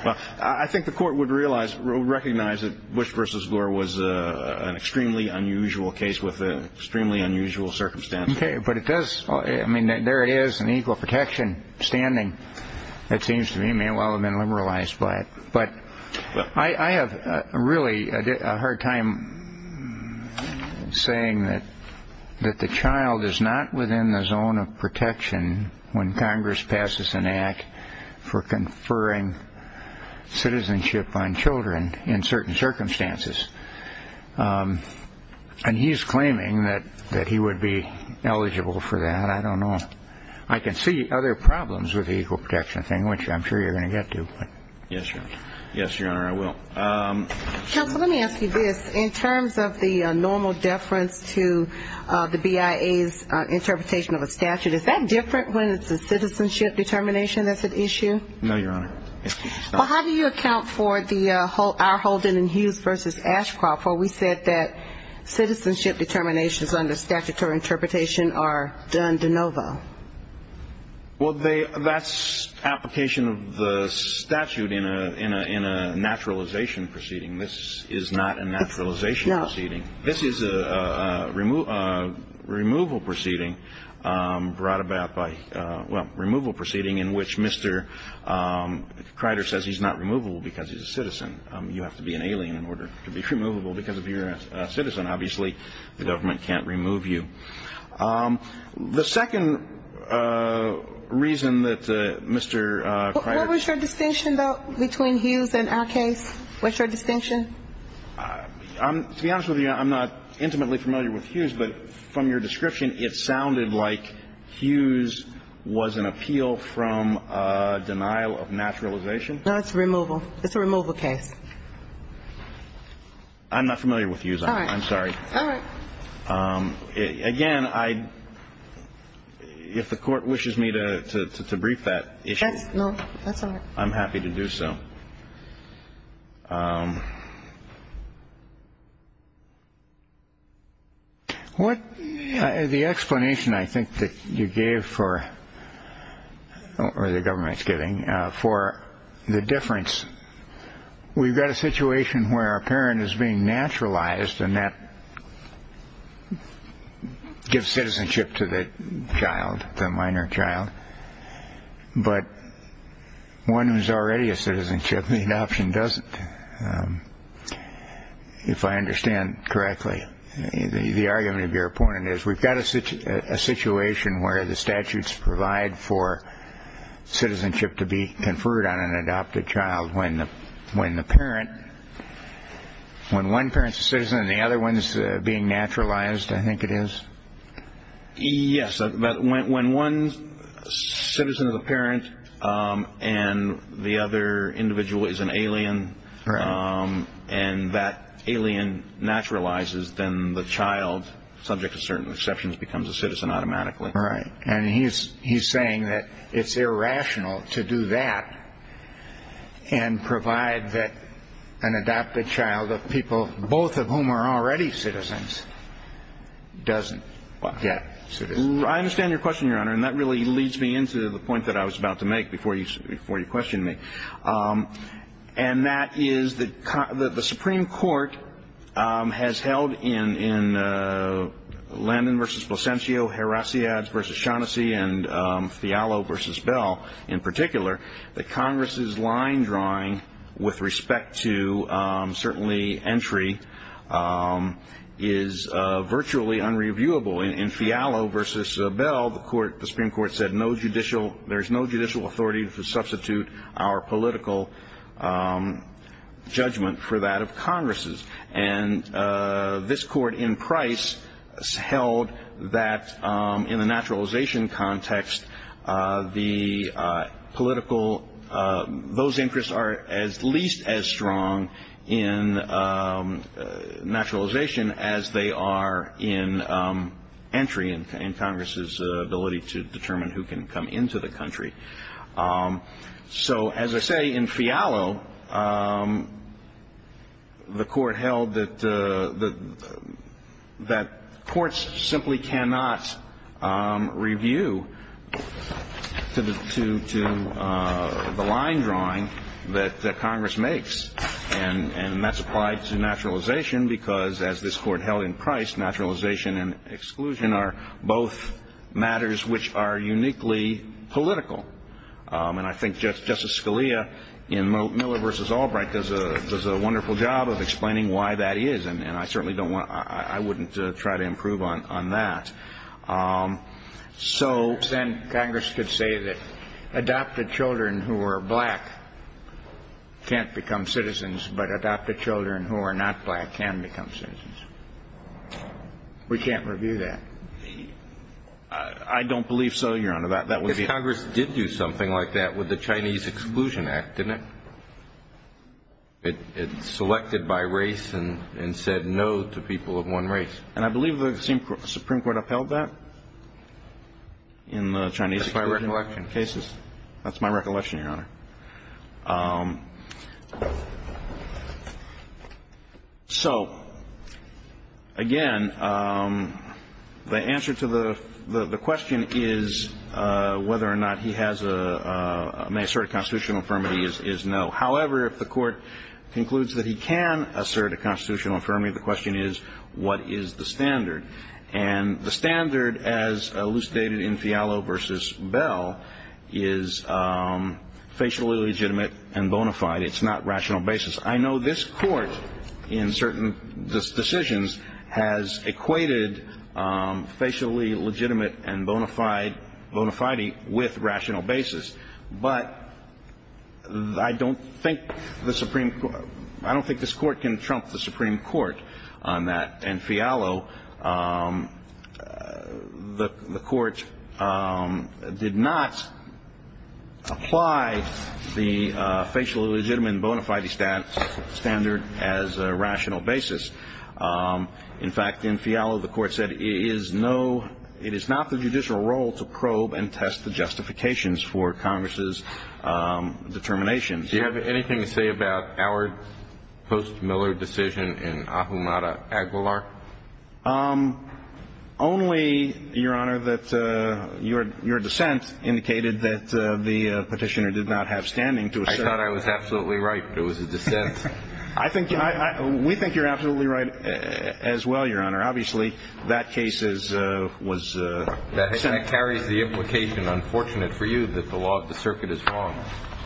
Well, I think the court would recognize that Bush versus Gore was an extremely unusual case with an extremely unusual circumstance. Okay, but it does, I mean, there it is, an equal protection standing that seems to me may well have been liberalized by it. But I have really a hard time saying that the child is not within the zone of protection when Congress passes an act for conferring citizenship on children in certain circumstances. And he's claiming that he would be eligible for that. I don't know. I can see other problems with the equal protection thing, which I'm sure you're going to get to. Yes, Your Honor. Yes, Your Honor, I will. Counsel, let me ask you this. In terms of the normal deference to the BIA's interpretation of a statute, is that different when it's a citizenship determination that's at issue? No, Your Honor. Well, how do you account for our Holden and Hughes versus Ashcroft, where we said that citizenship determinations under statutory interpretation are done de novo? Well, that's application of the statute in a naturalization proceeding. This is not a naturalization proceeding. This is a removal proceeding brought about by, well, removal proceeding in which Mr. Crider says he's not removable because he's a citizen. You have to be an alien in order to be removable because if you're a citizen, obviously the government can't remove you. The second reason that Mr. Crider ---- What was your distinction, though, between Hughes and our case? What's your distinction? To be honest with you, I'm not intimately familiar with Hughes, but from your description it sounded like Hughes was an appeal from denial of naturalization. No, it's removal. It's a removal case. I'm not familiar with Hughes, I'm sorry. All right. Again, if the court wishes me to brief that issue. No, that's all right. I'm happy to do so. The explanation I think that you gave for the government's getting for the difference, we've got a situation where a parent is being naturalized, and that gives citizenship to the child, the minor child. But one who's already a citizenship, the adoption doesn't. If I understand correctly, the argument of your point is we've got a situation where the statutes provide for citizenship to be conferred on an adopted child when the parent, when one parent's a citizen and the other one's being naturalized, I think it is? Yes. When one citizen is a parent and the other individual is an alien, and that alien naturalizes, then the child, subject to certain exceptions, becomes a citizen automatically. Right. And he's saying that it's irrational to do that and provide that an adopted child of people, both of whom are already citizens, doesn't get citizenship. I understand your question, Your Honor, and that really leads me into the point that I was about to make before you questioned me, and that is that the Supreme Court has held in Landon v. Placentio, Heracliades v. Shaughnessy, and Fialo v. Bell in particular, that Congress's line drawing with respect to, certainly, entry is virtually unreviewable. In Fialo v. Bell, the Supreme Court said, There is no judicial authority to substitute our political judgment for that of Congress's. This court in Price held that in the naturalization context, those interests are at least as strong in naturalization as they are in entry and Congress's ability to determine who can come into the country. So, as I say, in Fialo, the court held that courts simply cannot review to the line drawing that Congress makes, and that's applied to naturalization because, as this court held in Price, naturalization and exclusion are both matters which are uniquely political. And I think Justice Scalia, in Miller v. Albright, does a wonderful job of explaining why that is, and I certainly don't want, I wouldn't try to improve on that. So then Congress could say that adopted children who are black can't become citizens, but adopted children who are not black can become citizens. Well, we can't review that. I don't believe so, Your Honor. If Congress did do something like that with the Chinese Exclusion Act, didn't it? It selected by race and said no to people of one race. And I believe the Supreme Court upheld that in the Chinese exclusion cases. That's my recollection. That's my recollection, Your Honor. So, again, the answer to the question is whether or not he has a, may assert a constitutional affirmative is no. However, if the Court concludes that he can assert a constitutional affirmative, the question is, what is the standard? And the standard, as elucidated in Fialo v. Bell, is facial eligibility, facially legitimate and bona fide. It's not rational basis. I know this Court in certain decisions has equated facially legitimate and bona fide with rational basis. But I don't think the Supreme, I don't think this Court can trump the Supreme Court on that. In Fialo, the Court did not apply the facially legitimate and bona fide standard as a rational basis. In fact, in Fialo, the Court said it is not the judicial role to probe and test the justifications for Congress's determination. Do you have anything to say about our post-Miller decision in Ahumada Aguilar? Only, Your Honor, that your dissent indicated that the petitioner did not have standing to assert. I thought I was absolutely right, but it was a dissent. We think you're absolutely right as well, Your Honor. Obviously, that case was sentenced. That carries the implication, unfortunate for you, that the law of the circuit is wrong.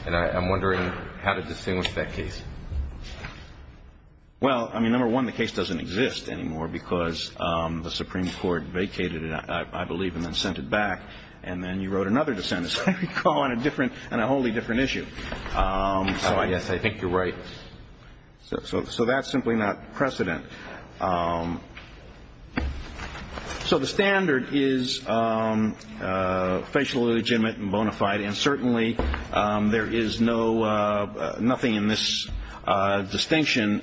And I'm wondering how to distinguish that case. Well, I mean, number one, the case doesn't exist anymore because the Supreme Court vacated it, I believe, and then sent it back. And then you wrote another dissent, as I recall, on a different, on a wholly different issue. Oh, yes. I think you're right. So that's simply not precedent. So the standard is facially legitimate and bona fide. And certainly there is no, nothing in this distinction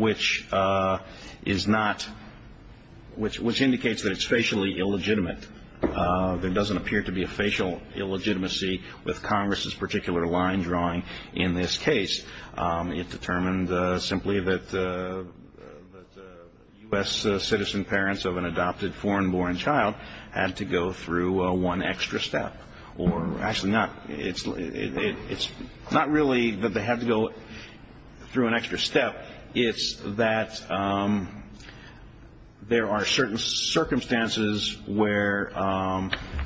which is not, which indicates that it's facially illegitimate. There doesn't appear to be a facial illegitimacy with Congress's particular line drawing in this case. It determined simply that U.S. citizen parents of an adopted foreign-born child had to go through one extra step. Or actually not, it's not really that they had to go through an extra step. It's that there are certain circumstances where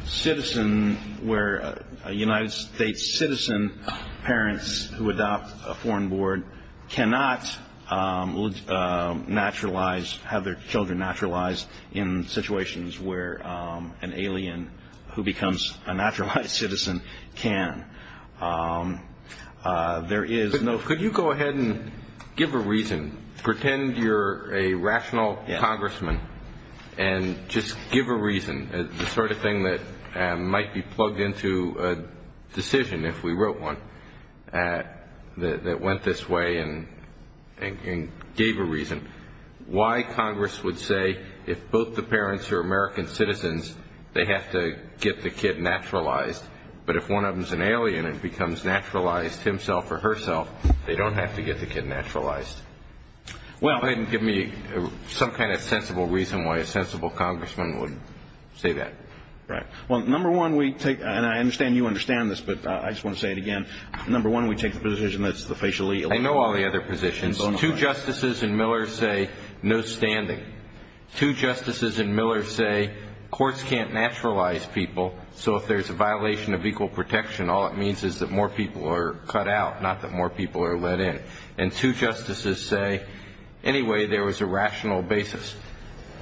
citizen, where a United States citizen parents who adopt a foreign-born cannot naturalize, have their children naturalized in situations where an alien who becomes a naturalized citizen can. There is no. Could you go ahead and give a reason, pretend you're a rational congressman, and just give a reason, the sort of thing that might be plugged into a decision, if we wrote one, that went this way and gave a reason, why Congress would say if both the parents are American citizens, they have to get the kid naturalized, but if one of them is an alien and becomes naturalized himself or herself, they don't have to get the kid naturalized. Go ahead and give me some kind of sensible reason why a sensible congressman would say that. Right. Well, number one, we take, and I understand you understand this, but I just want to say it again. Number one, we take the position that it's the facially illegitimate. I know all the other positions. Two justices in Miller say no standing. Two justices in Miller say courts can't naturalize people, so if there's a violation of equal protection, all it means is that more people are cut out, not that more people are let in. And two justices say, anyway, there was a rational basis.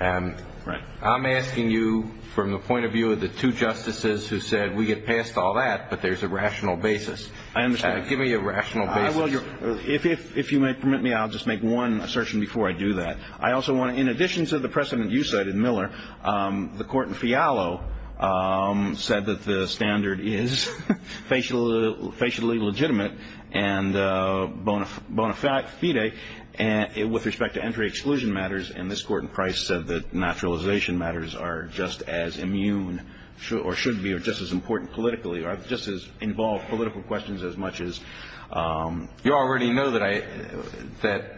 Right. I'm asking you from the point of view of the two justices who said we get past all that, but there's a rational basis. I understand. Give me a rational basis. If you might permit me, I'll just make one assertion before I do that. I also want to, in addition to the precedent you cited, Miller, the court in Fialo said that the standard is facially legitimate and bona fide with respect to entry exclusion matters, and this court in Price said that naturalization matters are just as immune or should be or just as important politically or just as involve political questions as much as. You already know that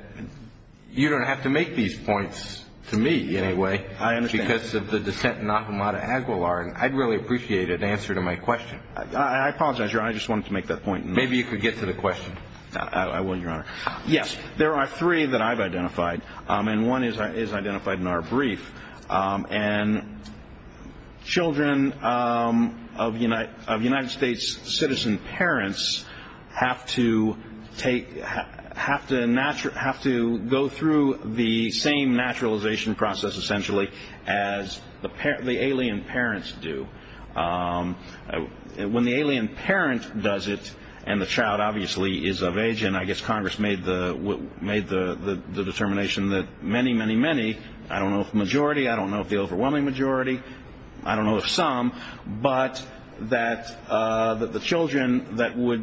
you don't have to make these points to me anyway. I understand. Because of the dissent in Ahumada Aguilar, and I'd really appreciate an answer to my question. I apologize, Your Honor. I just wanted to make that point. Maybe you could get to the question. I will, Your Honor. Yes. There are three that I've identified, and one is identified in our brief. And children of United States citizen parents have to go through the same naturalization process, essentially, as the alien parents do. When the alien parent does it, and the child obviously is of age, and I guess Congress made the determination that many, many, many, I don't know if majority, I don't know if the overwhelming majority, I don't know if some, but that the children that would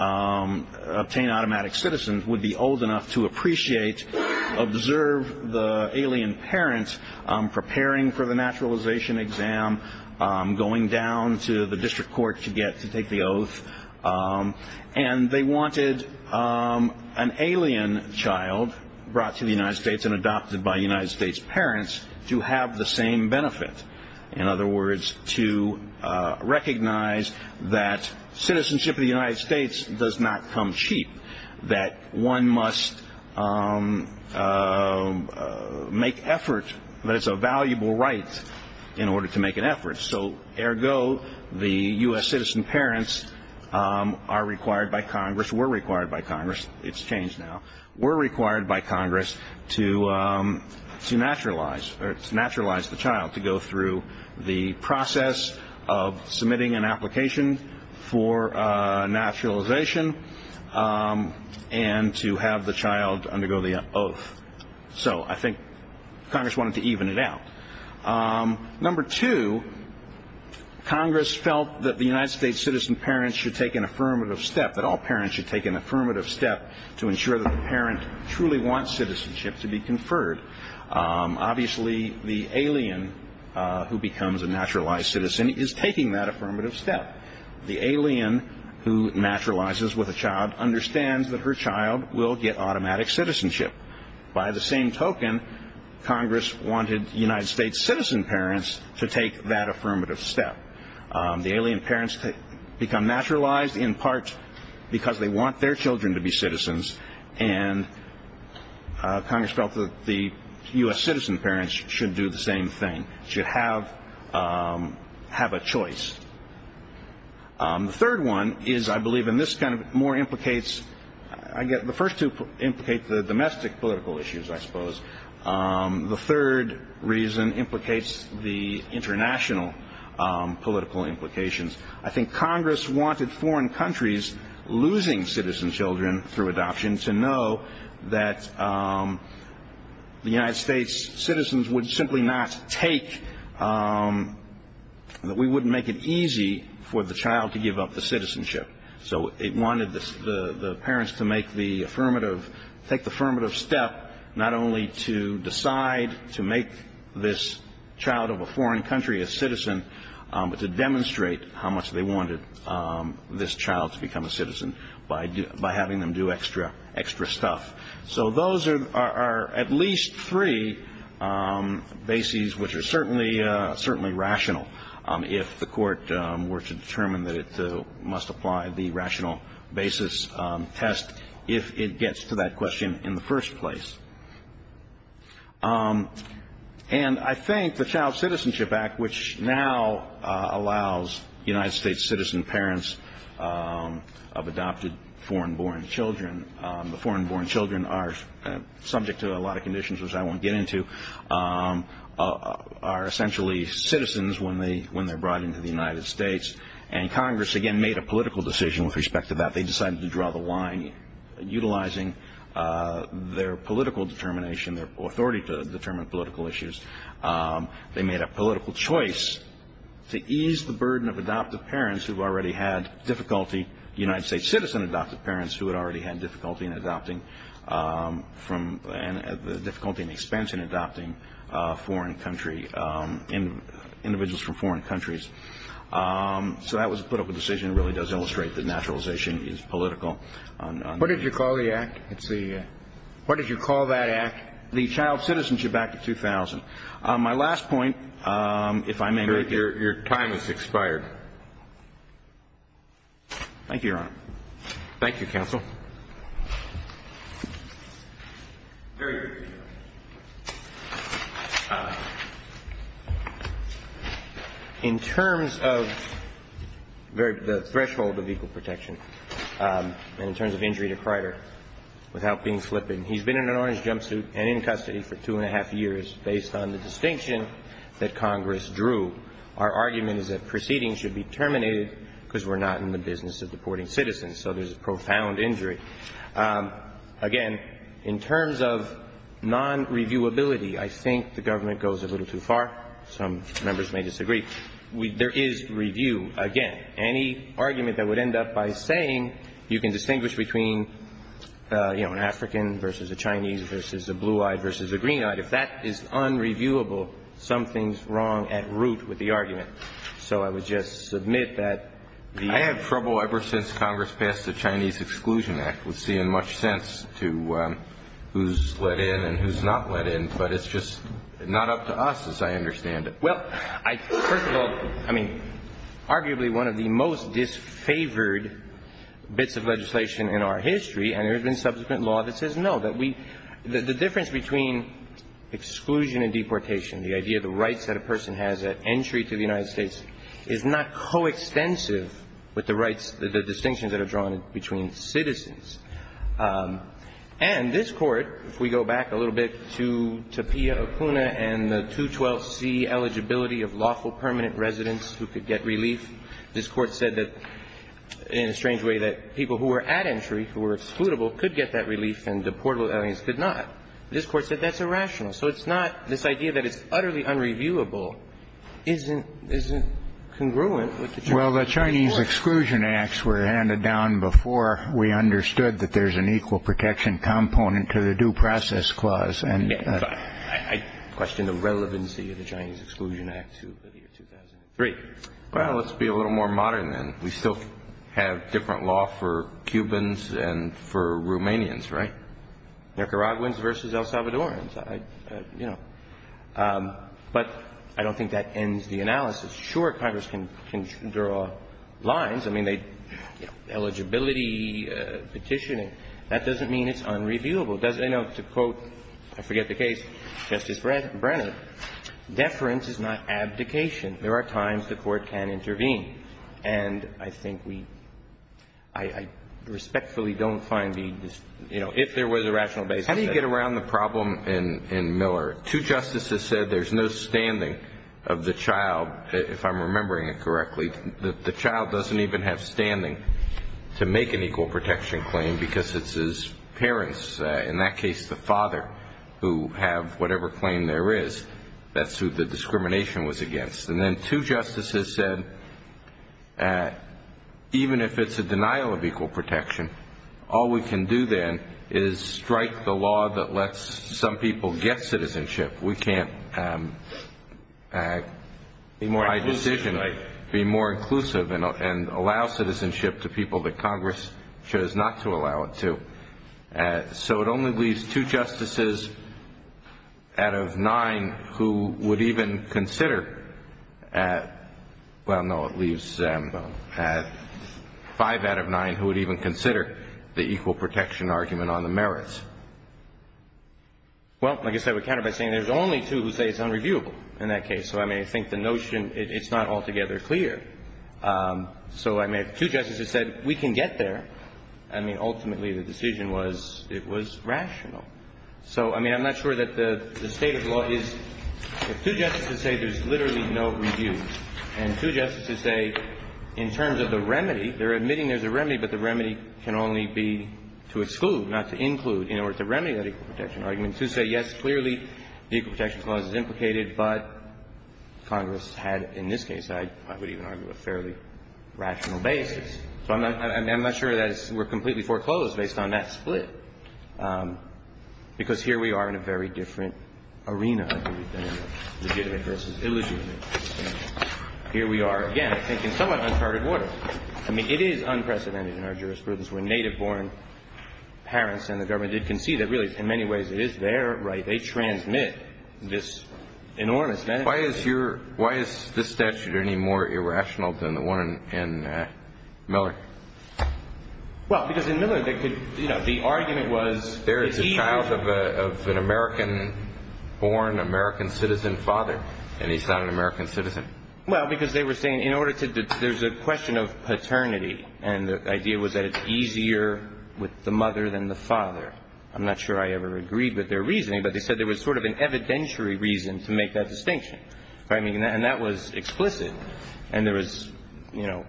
obtain automatic citizens would be old enough to appreciate, observe the alien parent, preparing for the naturalization exam, going down to the district court to take the oath. And they wanted an alien child brought to the United States and adopted by United States parents to have the same benefit. In other words, to recognize that citizenship in the United States does not come cheap, that one must make effort, that it's a valuable right in order to make an effort. So ergo, the U.S. citizen parents are required by Congress, were required by Congress, it's changed now, were required by Congress to naturalize the child, to go through the process of submitting an application for naturalization and to have the child undergo the oath. So I think Congress wanted to even it out. Number two, Congress felt that the United States citizen parents should take an affirmative step, that all parents should take an affirmative step to ensure that the parent truly wants citizenship to be conferred. Obviously, the alien who becomes a naturalized citizen is taking that affirmative step. The alien who naturalizes with a child understands that her child will get automatic citizenship. By the same token, Congress wanted United States citizen parents to take that affirmative step. The alien parents become naturalized in part because they want their children to be citizens, and Congress felt that the U.S. citizen parents should do the same thing, should have a choice. The third one is, I believe, and this kind of more implicates, the first two implicate the domestic political issues, I suppose. The third reason implicates the international political implications. I think Congress wanted foreign countries losing citizen children through adoption to know that the United States citizens would simply not take, that we wouldn't make it easy for the child to give up the citizenship. So it wanted the parents to make the affirmative, take the affirmative step, not only to decide to make this child of a foreign country a citizen, but to demonstrate how much they wanted this child to become a citizen by having them do extra stuff. So those are at least three bases which are certainly rational, if the court were to determine that it must apply the rational basis test if it gets to that question in the first place. And I think the Child Citizenship Act, which now allows United States citizen parents of adopted foreign-born children, the foreign-born children are subject to a lot of conditions which I won't get into, are essentially citizens when they're brought into the United States. And Congress, again, made a political decision with respect to that. They decided to draw the line utilizing their political determination, their authority to determine political issues. They made a political choice to ease the burden of adopted parents who've already had difficulty, United States citizen adopted parents who had already had difficulty in adopting from and the difficulty and expense in adopting foreign country individuals from foreign countries. So that was a political decision. It really does illustrate that naturalization is political. What did you call the act? What did you call that act? The Child Citizenship Act of 2000. My last point, if I may. Your time has expired. Thank you, Your Honor. Thank you, Counsel. Very briefly, Your Honor. In terms of the threshold of equal protection and in terms of injury to creditor without being flippant, he's been in an orange jumpsuit and in custody for two and a half years based on the distinction that Congress drew. Our argument is that proceedings should be terminated because we're not in the business of deporting citizens. So there's a profound injury. Again, in terms of non-reviewability, I think the government goes a little too far. Some members may disagree. There is review, again. Any argument that would end up by saying you can distinguish between, you know, an African versus a Chinese versus a blue-eyed versus a green-eyed, if that is unreviewable, something's wrong at root with the argument. So I would just submit that the ---- I have trouble ever since Congress passed the Chinese Exclusion Act with seeing much sense to who's let in and who's not let in, but it's just not up to us as I understand it. Well, first of all, I mean, arguably one of the most disfavored bits of legislation in our history, and there's been subsequent law that says no, that we ---- the difference between exclusion and deportation, the idea of the rights that a person has at entry to the United States, is not coextensive with the rights, the distinctions that are drawn between citizens. And this Court, if we go back a little bit to Tapia, Okuna, and the 212C eligibility of lawful permanent residents who could get relief, this Court said that in a strange way that people who were at entry, who were excludable, could get that relief and deportable aliens could not. This Court said that's irrational. So it's not ---- this idea that it's utterly unreviewable isn't congruent with the ---- The Chinese Exclusion Acts were handed down before we understood that there's an equal protection component to the Due Process Clause. I question the relevancy of the Chinese Exclusion Act to the year 2003. Well, let's be a little more modern then. We still have different law for Cubans and for Romanians, right? Nicaraguans versus El Salvadorans, you know. But I don't think that ends the analysis. Sure, Congress can draw lines. I mean, they ---- eligibility, petitioning. That doesn't mean it's unreviewable. It doesn't ---- you know, to quote, I forget the case, Justice Brenner, deference is not abdication. There are times the Court can intervene. And I think we ---- I respectfully don't find the ---- you know, if there was a rational basis ---- How do you get around the problem in Miller? Two justices said there's no standing of the child, if I'm remembering it correctly. The child doesn't even have standing to make an equal protection claim because it's his parents, in that case the father, who have whatever claim there is. That's who the discrimination was against. And then two justices said even if it's a denial of equal protection, all we can do then is strike the law that lets some people get citizenship. We can't ---- Be more inclusive. Be more inclusive and allow citizenship to people that Congress chose not to allow it to. So it only leaves two justices out of nine who would even consider ---- well, no, it leaves five out of nine who would even consider the equal protection argument on the merits. Well, like I said, we counter by saying there's only two who say it's unreviewable in that case. So, I mean, I think the notion ---- it's not altogether clear. So, I mean, if two justices said we can get there, I mean, ultimately the decision was it was rational. So, I mean, I'm not sure that the state of the law is ---- if two justices say there's literally no review. And two justices say in terms of the remedy, they're admitting there's a remedy, but the remedy can only be to exclude, not to include, in order to remedy that equal protection argument. Two say, yes, clearly the equal protection clause is implicated, but Congress had in this case, I would even argue, a fairly rational basis. So I'm not sure that we're completely foreclosed based on that split, because here we are in a very different arena, I believe, than legitimate versus illegitimate. Here we are, again, I think, in somewhat uncharted water. I mean, it is unprecedented in our jurisprudence when native-born parents and the government did concede that really, in many ways, it is their right. They transmit this enormous benefit. Why is your ---- why is this statute any more irrational than the one in Miller? Well, because in Miller they could, you know, the argument was ---- But there is a child of an American-born, American citizen father, and he's not an American citizen. Well, because they were saying in order to ---- there's a question of paternity, and the idea was that it's easier with the mother than the father. I'm not sure I ever agreed with their reasoning, but they said there was sort of an evidentiary reason to make that distinction. And that was explicit. And there was, you know,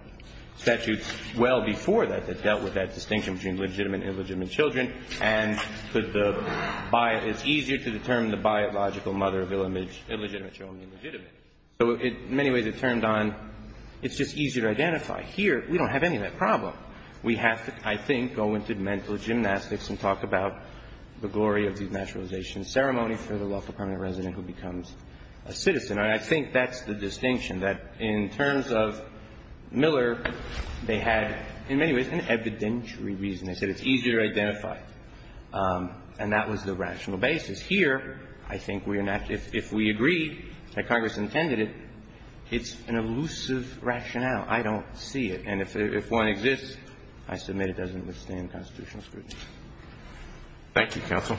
statutes well before that that dealt with that distinction between legitimate and illegitimate children, and could the ---- it's easier to determine the biological mother of illegitimate children than legitimate. So in many ways it turned on ---- it's just easier to identify. Here we don't have any of that problem. We have to, I think, go into mental gymnastics and talk about the glory of denaturalization ceremony for the local permanent resident who becomes a citizen. And I think that's the distinction, that in terms of Miller, they had, in many ways, an evidentiary reason. They said it's easier to identify. And that was the rational basis. Here, I think we are not ---- if we agree that Congress intended it, it's an elusive rationale. I don't see it. And if one exists, I submit it doesn't withstand constitutional scrutiny. Roberts. Thank you, counsel.